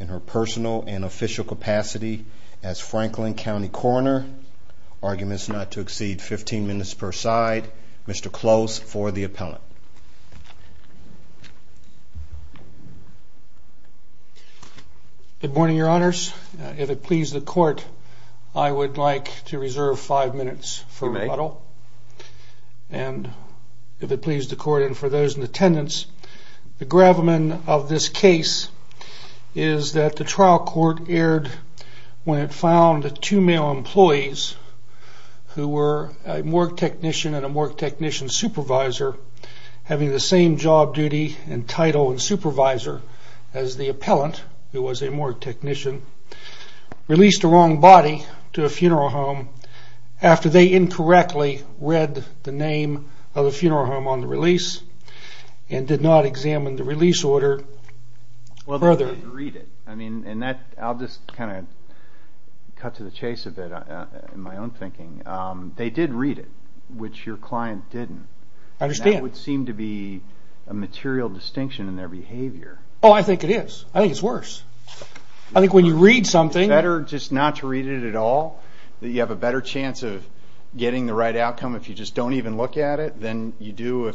in her personal and official capacity as Franklin County Coroner. Arguments not to exceed 15 minutes per side. Mr. Close for the appellant. Good morning, your honors. If it pleases the court, I would like to reserve five minutes for rebuttal. And if it pleases the court and for those in attendance, the gravamen of this case is that the trial court aired when it found two male employees who were a morgue technician and a morgue technician supervisor having the same job duty and title and supervisor as the appellant, who was a morgue technician, released the wrong body to a funeral home after they incorrectly read the name of the funeral home on the release and did not examine the release order further. I'll just kind of cut to the chase a bit in my own thinking. They did read it, which your client didn't. That would seem to be a material distinction in their behavior. Oh, I think it is. I think it's worse. I think when you read something... Is it better just not to read it at all? That you have a better chance of getting the right outcome if you just don't even look at it than you do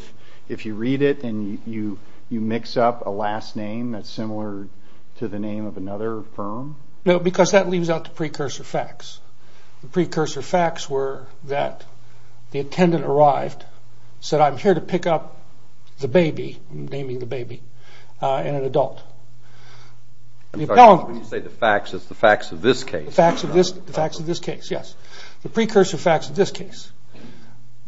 if you read it and you mix up a last name that's similar to the name of another firm? No, because that leaves out the precursor facts. The precursor facts were that the attendant arrived, said I'm here to pick up the baby, naming the baby, and an adult. I'm sorry, when you say the facts, it's the facts of this case. The facts of this case, yes. The precursor facts of this case.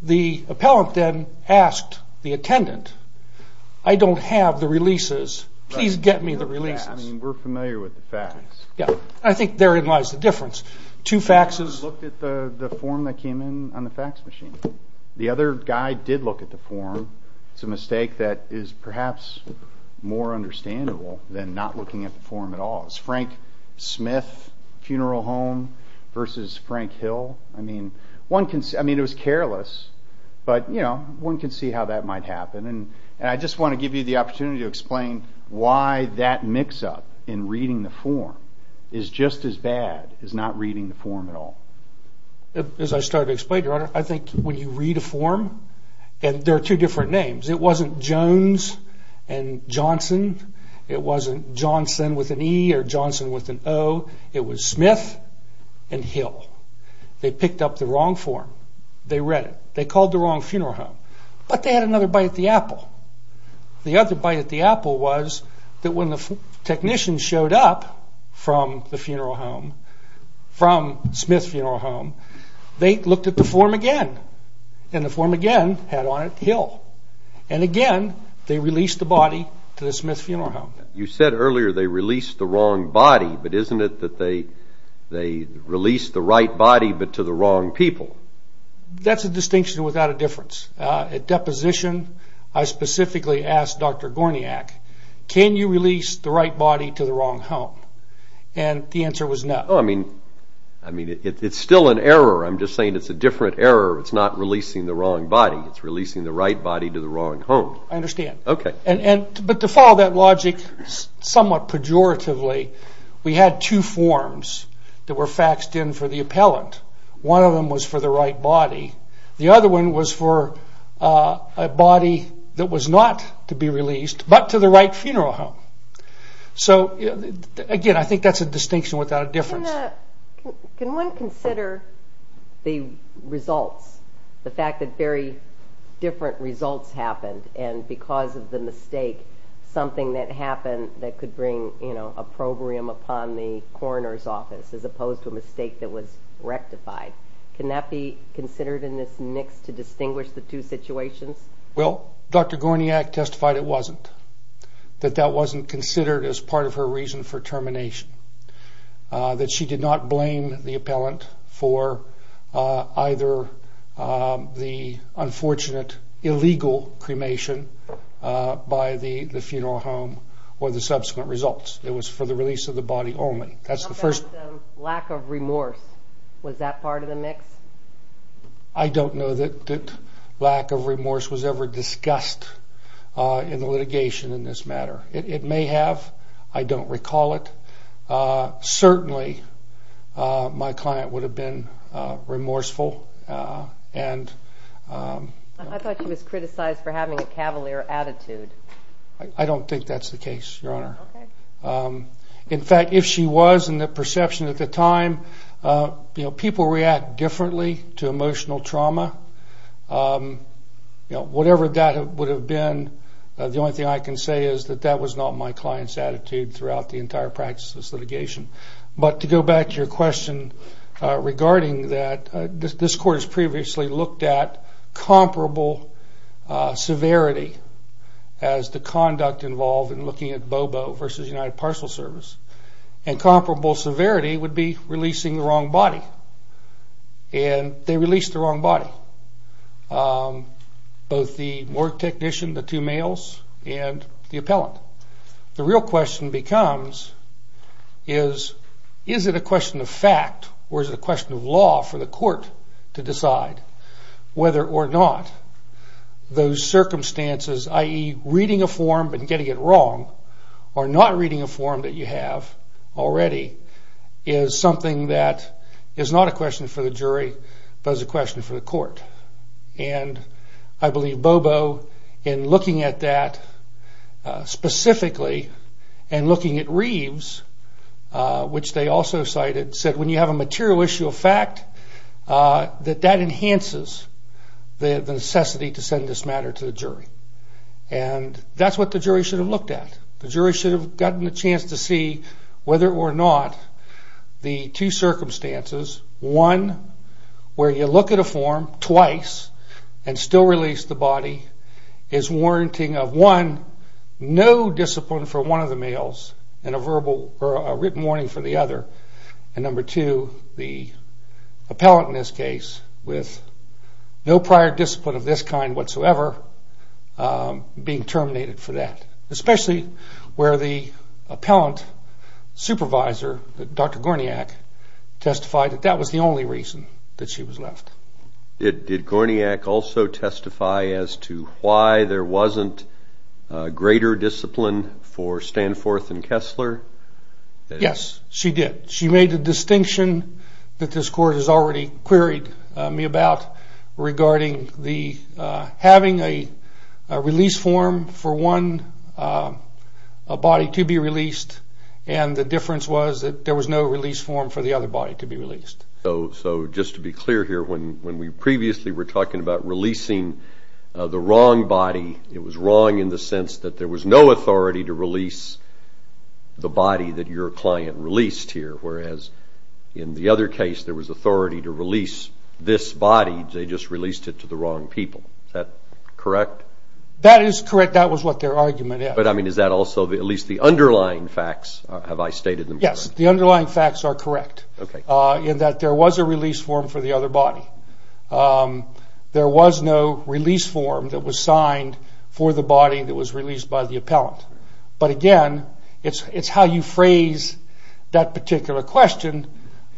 The appellant then asked the attendant, I don't have the releases, please get me the releases. We're familiar with the facts. I think therein lies the difference. Two faxes... I looked at the form that came in on the fax machine. The other guy did look at the form. It's a mistake that is perhaps more understandable than not looking at the form at all. It's Frank Smith Funeral Home versus Frank Hill. It was careless, but one can see how that might happen. I just want to give you the opportunity to explain why that mix up in reading the form is just as bad as not reading the form at all. As I started to explain, your honor, I think when you read a form, and there are two different names. It wasn't Jones and Johnson. It wasn't Johnson with an E or Johnson with an O. It was Smith and Hill. They picked up the wrong form. They read it. They called the wrong funeral home, but they had another bite at the apple. The other bite at the apple was that when the technicians showed up from the funeral home, from Smith Funeral Home, they looked at the form again and the form again had on it Hill. Again, they released the body to the Smith Funeral Home. You said earlier they released the wrong body, but isn't it that they released the right body, but to the wrong people? That's a distinction without a difference. At deposition, I specifically asked Dr. Gorniak, can you release the right body to the wrong home? The answer was no. It's still an error. I'm just saying it's a different error. It's not releasing the wrong body. It's releasing the right body to the wrong home. I understand, but to follow that logic somewhat pejoratively, we had two forms that were faxed in for the appellant. One of them was for the right body. The other one was for a body that was not to be released, but to the right funeral home. Again, I think that's a distinction without a difference. Can one consider the results, the fact that very different results happened and because of the mistake, something that happened that could bring a probrium upon the coroner's office as opposed to a mistake that was rectified. Can that be considered in this mix to distinguish the two situations? Well, Dr. Gorniak testified it wasn't, that that wasn't considered as part of her reason for termination, that she did not blame the appellant for either the unfortunate illegal cremation by the funeral home or the subsequent results. It was for the release of the body only. How about the lack of remorse? Was that part of the mix? I don't know that lack of remorse was ever discussed in the litigation in this matter. It may have. I don't recall it. Certainly, my client would have been remorseful. I thought she was criticized for having a cavalier attitude. I don't think that's the case, Your Honor. Okay. In fact, if she was, in the perception at the time, people react differently to emotional trauma. Whatever that would have been, the only thing I can say is that that was not my client's attitude throughout the entire practice of this litigation. But to go back to your question regarding that, this court has previously looked at comparable severity as the conduct involved in looking at Bobo v. United Parcel Service. And comparable severity would be releasing the wrong body. And they released the wrong body, both the morgue technician, the two males, and the appellant. The real question becomes is, is it a question of fact or is it a question of law for the court to decide whether or not those circumstances, i.e., reading a form but getting it wrong or not reading a form that you have already, is something that is not a question for the jury but is a question for the court. And I believe Bobo, in looking at that specifically and looking at Reeves, which they also cited, said when you have a material issue of fact, that that enhances the necessity to send this matter to the jury. And that's what the jury should have looked at. The jury should have gotten a chance to see whether or not the two circumstances, one, where you look at a form twice and still release the body, is warranting of, one, no discipline for one of the males and a written warning for the other. And number two, the appellant in this case, with no prior discipline of this kind whatsoever, being terminated for that. Especially where the appellant supervisor, Dr. Gorniak, testified that that was the only reason that she was left. Did Gorniak also testify as to why there wasn't greater discipline for Stanforth and Kessler? Yes, she did. She made the distinction that this court has already queried me about regarding having a release form for one body to be released and the difference was that there was no release form for the other body to be released. So just to be clear here, when we previously were talking about releasing the wrong body, it was wrong in the sense that there was no authority to release the body that your client released here. Whereas in the other case, there was authority to release this body, they just released it to the wrong people. Is that correct? That is correct. That was what their argument is. But I mean, is that also, at least the underlying facts, have I stated them correctly? Yes, the underlying facts are correct. Okay. In that there was a release form for the other body. There was no release form that was signed for the body that was released by the appellant. But again, it's how you phrase that particular question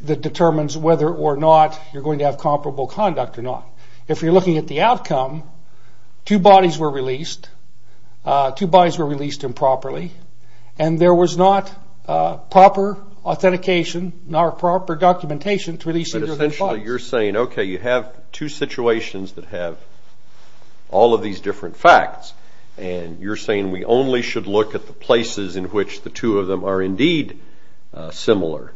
that determines whether or not you're going to have comparable conduct or not. If you're looking at the outcome, two bodies were released. Two bodies were released improperly. And there was not proper authentication nor proper documentation to release either of the bodies. But essentially you're saying, okay, you have two situations that have all of these different facts. And you're saying we only should look at the places in which the two of them are indeed similar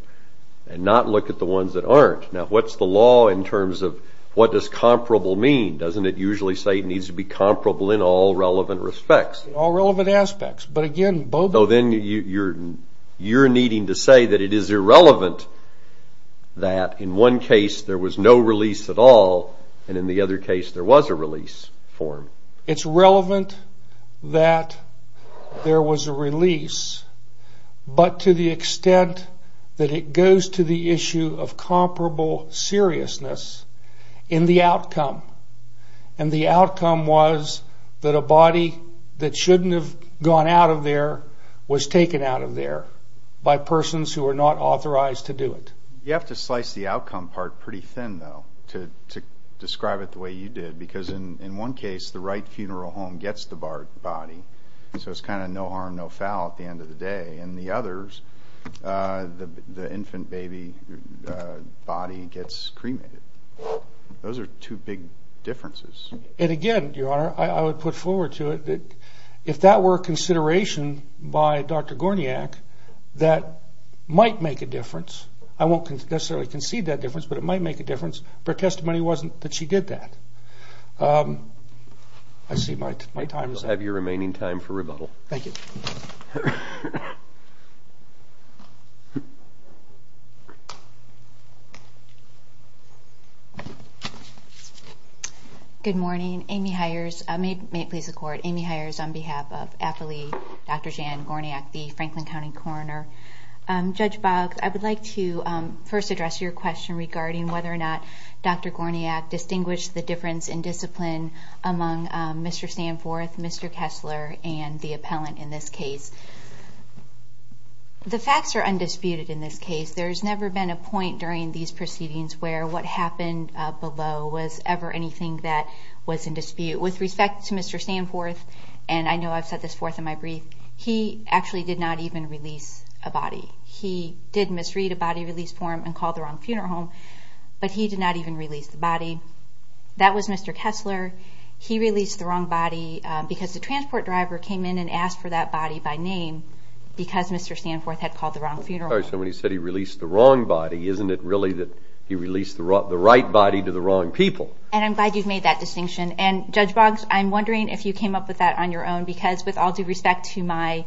and not look at the ones that aren't. Now, what's the law in terms of what does comparable mean? Doesn't it usually say it needs to be comparable in all relevant respects? All relevant aspects. But again, both of them. So then you're needing to say that it is irrelevant that in one case there was no release at all and in the other case there was a release form. It's relevant that there was a release, but to the extent that it goes to the issue of comparable seriousness in the outcome. And the outcome was that a body that shouldn't have gone out of there was taken out of there by persons who are not authorized to do it. You have to slice the outcome part pretty thin, though, to describe it the way you did. Because in one case, the right funeral home gets the body. So it's kind of no harm, no foul at the end of the day. In the others, the infant baby body gets cremated. Those are two big differences. And again, Your Honor, I would put forward to it that if that were a consideration by Dr. Gorniak, that might make a difference. I won't necessarily concede that difference, but it might make a difference. Her testimony wasn't that she did that. I see my time is up. You'll have your remaining time for rebuttal. Thank you. Good morning. Amy Hires. May it please the Court. Amy Hires on behalf of AFLI, Dr. Jan Gorniak, the Franklin County Coroner. Judge Boggs, I would like to first address your question regarding whether or not Dr. Gorniak distinguished the difference in discipline among Mr. Stanforth, Mr. Kessler, and the appellant in this case. The facts are undisputed in this case. There's never been a point during these proceedings where what happened below was ever anything that was in dispute. With respect to Mr. Stanforth, and I know I've said this forth in my brief, he actually did not even release a body. He did misread a body release form and called the wrong funeral home, but he did not even release the body. That was Mr. Kessler. He released the wrong body because the transport driver came in and asked for that body by name because Mr. Stanforth had called the wrong funeral home. So when he said he released the wrong body, isn't it really that he released the right body to the wrong people? And I'm glad you've made that distinction. And Judge Boggs, I'm wondering if you came up with that on your own because with all due respect to my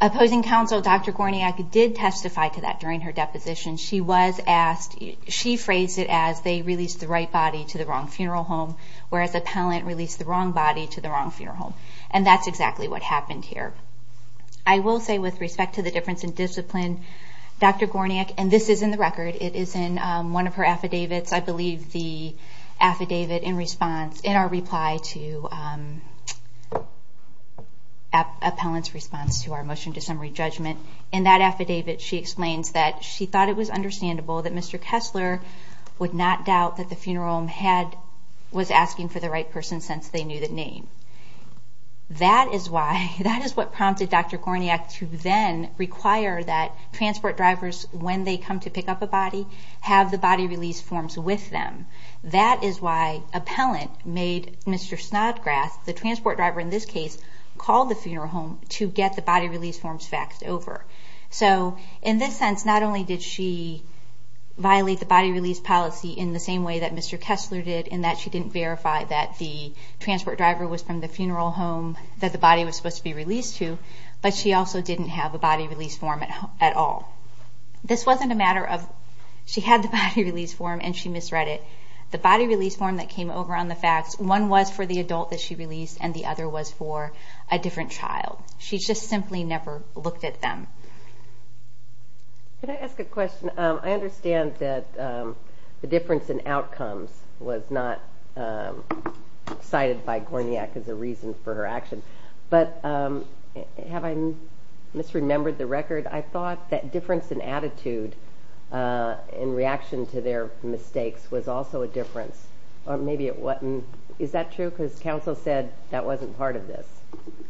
opposing counsel, Dr. Gorniak did testify to that during her deposition. She was asked, she phrased it as they released the right body to the wrong funeral home, whereas the appellant released the wrong body to the wrong funeral home. And that's exactly what happened here. I will say with respect to the difference in discipline, Dr. Gorniak, and this is in the record, it is in one of her affidavits, I believe the affidavit in response, in our reply to appellant's response to our motion to summary judgment. In that affidavit, she explains that she thought it was understandable that Mr. Kessler would not doubt that the funeral home was asking for the right person since they knew the name. That is why, that is what prompted Dr. Gorniak to then require that transport drivers, when they come to pick up a body, have the body release forms with them. That is why appellant made Mr. Snodgrass, the transport driver in this case, call the funeral home to get the body release forms faxed over. So in this sense, not only did she violate the body release policy in the same way that Mr. Kessler did, in that she didn't verify that the transport driver was from the funeral home that the body was supposed to be released to, but she also didn't have a body release form at all. This wasn't a matter of, she had the body release form and she misread it. The body release form that came over on the fax, one was for the adult that she released and the other was for a different child. She just simply never looked at them. Can I ask a question? I understand that the difference in outcomes was not cited by Gorniak as a reason for her action, but have I misremembered the record? I thought that difference in attitude in reaction to their mistakes was also a difference, or maybe it wasn't. Is that true? Because counsel said that wasn't part of this.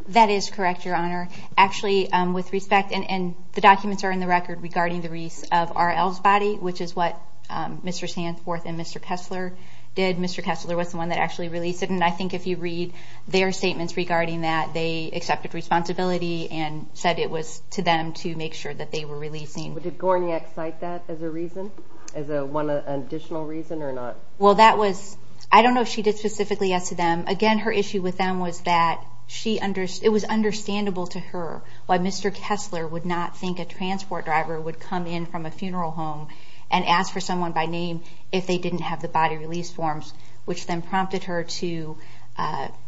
That is correct, Your Honor. Actually, with respect, and the documents are in the record regarding the release of R.L.'s body, which is what Mr. Sandsworth and Mr. Kessler did. Mr. Kessler was the one that actually released it, and I think if you read their statements regarding that, they accepted responsibility and said it was to them to make sure that they were releasing. Did Gorniak cite that as a reason, as an additional reason or not? Well, that was, I don't know if she did specifically yes to them. Again, her issue with them was that it was understandable to her why Mr. Kessler would not think a transport driver would come in from a funeral home and ask for someone by name if they didn't have the body release forms, which then prompted her to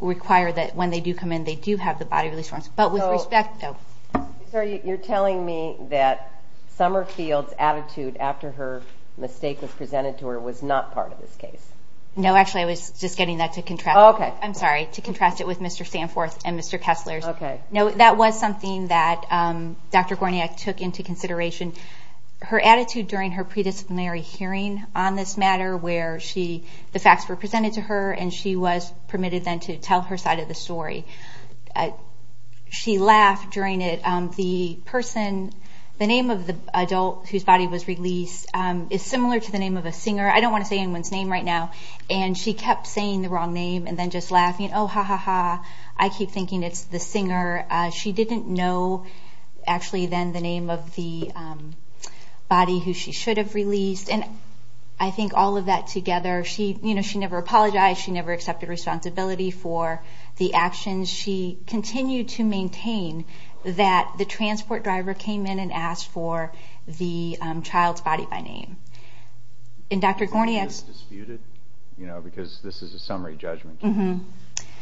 require that when they do come in they do have the body release forms. But with respect, though. So you're telling me that Summerfield's attitude after her mistake was presented to her was not part of this case? No, actually I was just getting that to contrast. I'm sorry, to contrast it with Mr. Sandsworth and Mr. Kessler's. No, that was something that Dr. Gorniak took into consideration. Her attitude during her predisciplinary hearing on this matter where the facts were presented to her and she was permitted then to tell her side of the story. She laughed during it. The name of the adult whose body was released is similar to the name of a singer. I don't want to say anyone's name right now. And she kept saying the wrong name and then just laughing. Oh, ha, ha, ha. I keep thinking it's the singer. She didn't know, actually, then the name of the body who she should have released. And I think all of that together. She never apologized. She never accepted responsibility for the actions. She continued to maintain that the transport driver came in and asked for the child's body by name. And Dr. Gorniak... It was disputed because this is a summary judgment case.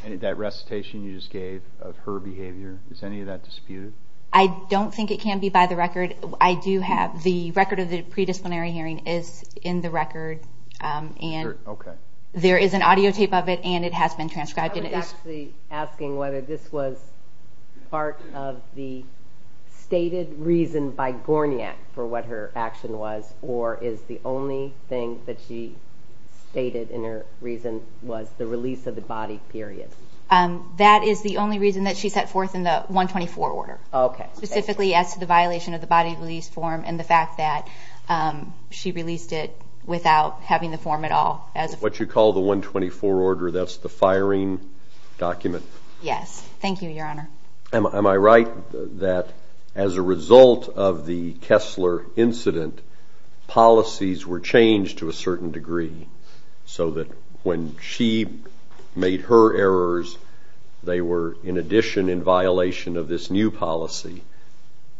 And that recitation you just gave of her behavior, is any of that disputed? I don't think it can be by the record. The record of the predisciplinary hearing is in the record. There is an audio tape of it and it has been transcribed. I was actually asking whether this was part of the stated reason by Gorniak for what her action was or is the only thing that she stated in her reason was the release of the body, period. That is the only reason that she set forth in the 124 order. Okay. Specifically as to the violation of the body release form and the fact that she released it without having the form at all. What you call the 124 order, that's the firing document? Yes. Thank you, Your Honor. Am I right that as a result of the Kessler incident, policies were changed to a certain degree so that when she made her errors, they were in addition in violation of this new policy?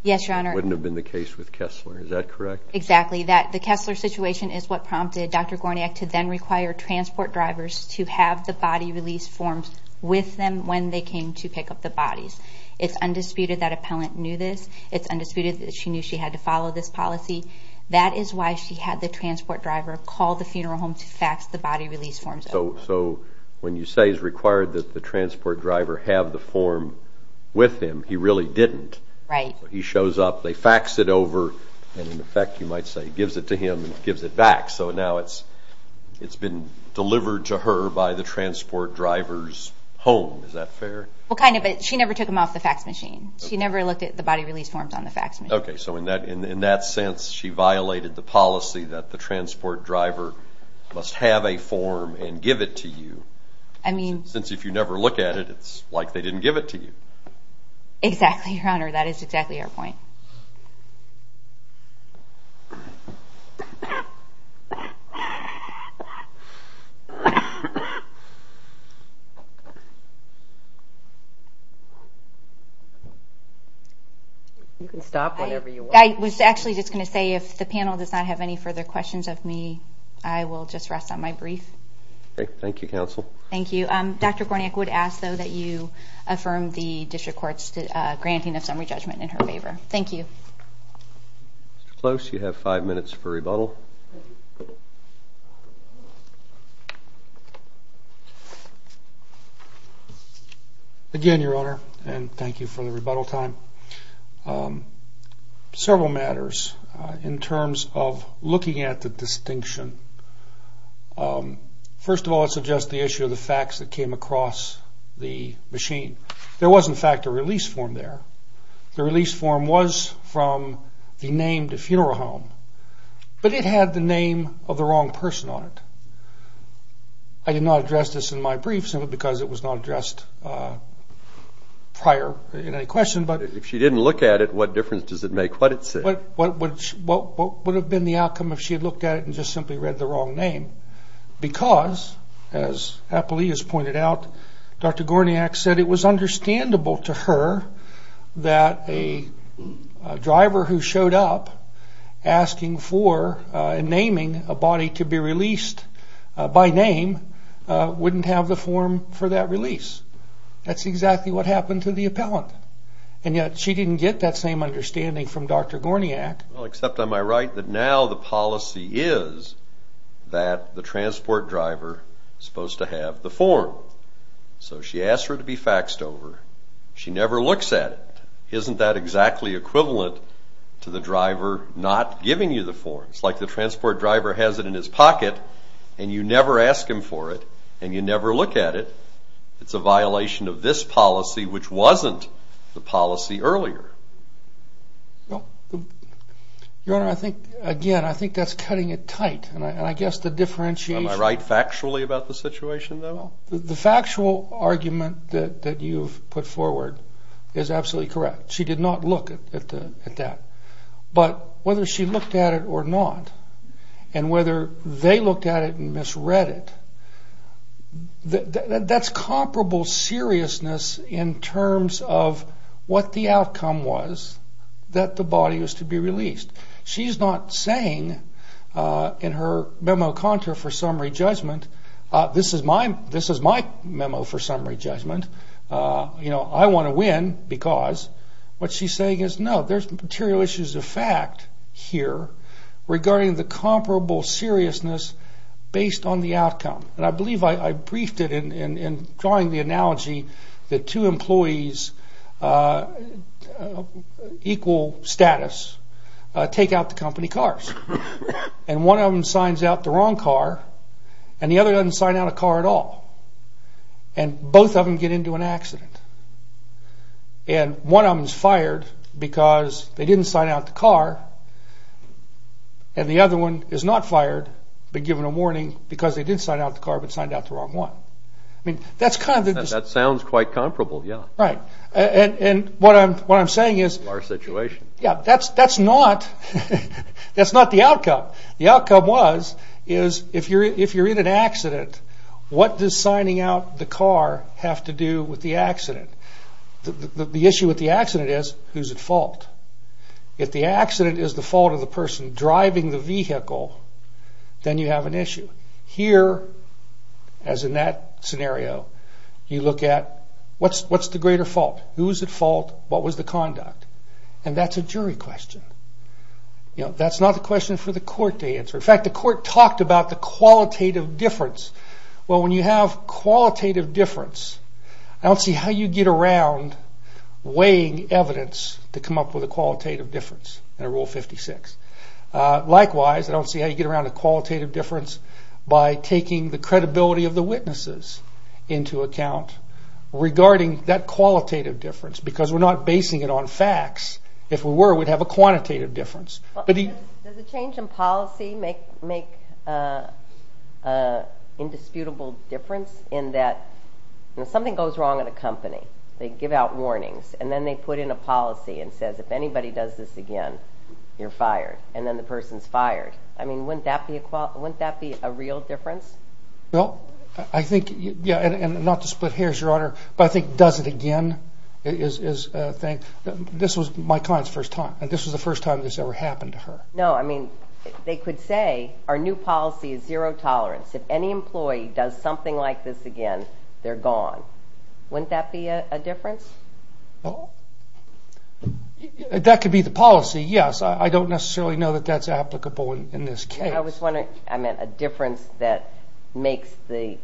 Yes, Your Honor. It wouldn't have been the case with Kessler. Is that correct? Exactly. The Kessler situation is what prompted Dr. Gorniak to then require transport drivers to have the body release forms with them when they came to pick up the bodies. It's undisputed that appellant knew this. It's undisputed that she knew she had to follow this policy. That is why she had the transport driver call the funeral home to fax the body release forms. So when you say it's required that the transport driver have the form with him, he really didn't. Right. He shows up, they fax it over, and in effect, you might say, gives it to him and gives it back. So now it's been delivered to her by the transport driver's home. Is that fair? Well, kind of, but she never took them off the fax machine. She never looked at the body release forms on the fax machine. Okay, so in that sense, she violated the policy that the transport driver must have a form and give it to you. Since if you never look at it, it's like they didn't give it to you. Exactly, Your Honor. That is exactly our point. You can stop whenever you want. I was actually just going to say if the panel does not have any further questions of me, I will just rest on my brief. Okay. Thank you, Counsel. Thank you. Dr. Gorniak would ask, though, that you affirm the District Court's granting of summary judgment in her favor. Thank you. Mr. Close, you have five minutes for rebuttal. Again, Your Honor, and thank you for the rebuttal time. Several matters in terms of looking at the distinction. First of all, it suggests the issue of the fax that came across the machine. There was, in fact, a release form there. The release form was from the named funeral home, but it had the name of the wrong person on it. I did not address this in my brief simply because it was not addressed prior in any question. If she didn't look at it, what difference does it make what it said? What would have been the outcome if she had looked at it and just simply read the wrong name? Because, as Apolea has pointed out, Dr. Gorniak said it was understandable to her that a driver who showed up asking for and naming a body to be released by name wouldn't have the form for that release. That's exactly what happened to the appellant. And yet she didn't get that same understanding from Dr. Gorniak. Well, except, am I right, that now the policy is that the transport driver is supposed to have the form. So she asked for it to be faxed over. She never looks at it. Isn't that exactly equivalent to the driver not giving you the form? It's like the transport driver has it in his pocket, and you never ask him for it, and you never look at it. It's a violation of this policy, which wasn't the policy earlier. Your Honor, again, I think that's cutting it tight. Am I right factually about the situation, though? The factual argument that you've put forward is absolutely correct. She did not look at that. But whether she looked at it or not, and whether they looked at it and misread it, that's comparable seriousness in terms of what the outcome was that the body was to be released. She's not saying in her memo contra for summary judgment, this is my memo for summary judgment, I want to win because, what she's saying is, no, there's material issues of fact here regarding the comparable seriousness based on the outcome. And I believe I briefed it in drawing the analogy that two employees, equal status, take out the company cars. And one of them signs out the wrong car, and the other doesn't sign out a car at all. And both of them get into an accident. And one of them is fired because they didn't sign out the car, and the other one is not fired but given a warning because they didn't sign out the car but signed out the wrong one. That sounds quite comparable, yeah. Right. And what I'm saying is, that's not the outcome. The outcome was, if you're in an accident, what does signing out the car have to do with the accident? The issue with the accident is, who's at fault? If the accident is the fault of the person driving the vehicle, then you have an issue. Here, as in that scenario, you look at what's the greater fault? Who's at fault? What was the conduct? And that's a jury question. That's not the question for the court to answer. In fact, the court talked about the qualitative difference. Well, when you have qualitative difference, I don't see how you get around weighing evidence to come up with a qualitative difference under Rule 56. Likewise, I don't see how you get around a qualitative difference by taking the credibility of the witnesses into account regarding that qualitative difference because we're not basing it on facts. If we were, we'd have a quantitative difference. Does a change in policy make an indisputable difference in that something goes wrong at a company, they give out warnings, and then they put in a policy and says, if anybody does this again, you're fired, and then the person's fired. I mean, wouldn't that be a real difference? Well, I think, yeah, and not to split hairs, Your Honor, but I think does it again is a thing. This was my client's first time, and this was the first time this ever happened to her. No, I mean, they could say our new policy is zero tolerance. If any employee does something like this again, they're gone. Wouldn't that be a difference? That could be the policy, yes. I don't necessarily know that that's applicable in this case. I was wondering, I meant a difference that makes the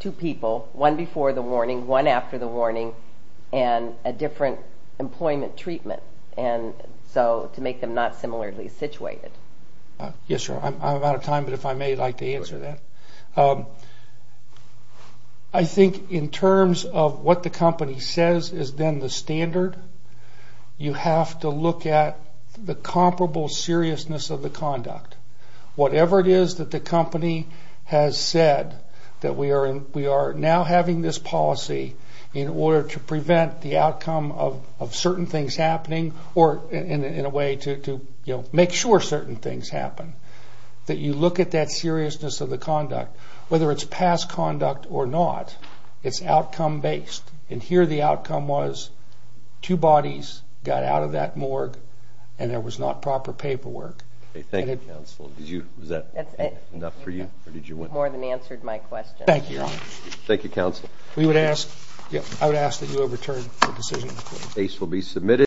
two people, one before the warning, one after the warning, and a different employment treatment, and so to make them not similarly situated. Yes, Your Honor. I'm out of time, but if I may, I'd like to answer that. I think in terms of what the company says is then the standard, you have to look at the comparable seriousness of the conduct. Whatever it is that the company has said that we are now having this policy in order to prevent the outcome of certain things happening or in a way to make sure certain things happen, that you look at that seriousness of the conduct. Whether it's past conduct or not, it's outcome-based, and here the outcome was two bodies got out of that morgue, and there was not proper paperwork. Thank you, Counsel. Was that enough for you? You've more than answered my question. Thank you, Your Honor. Thank you, Counsel. I would ask that you overturn the decision. The case will be submitted.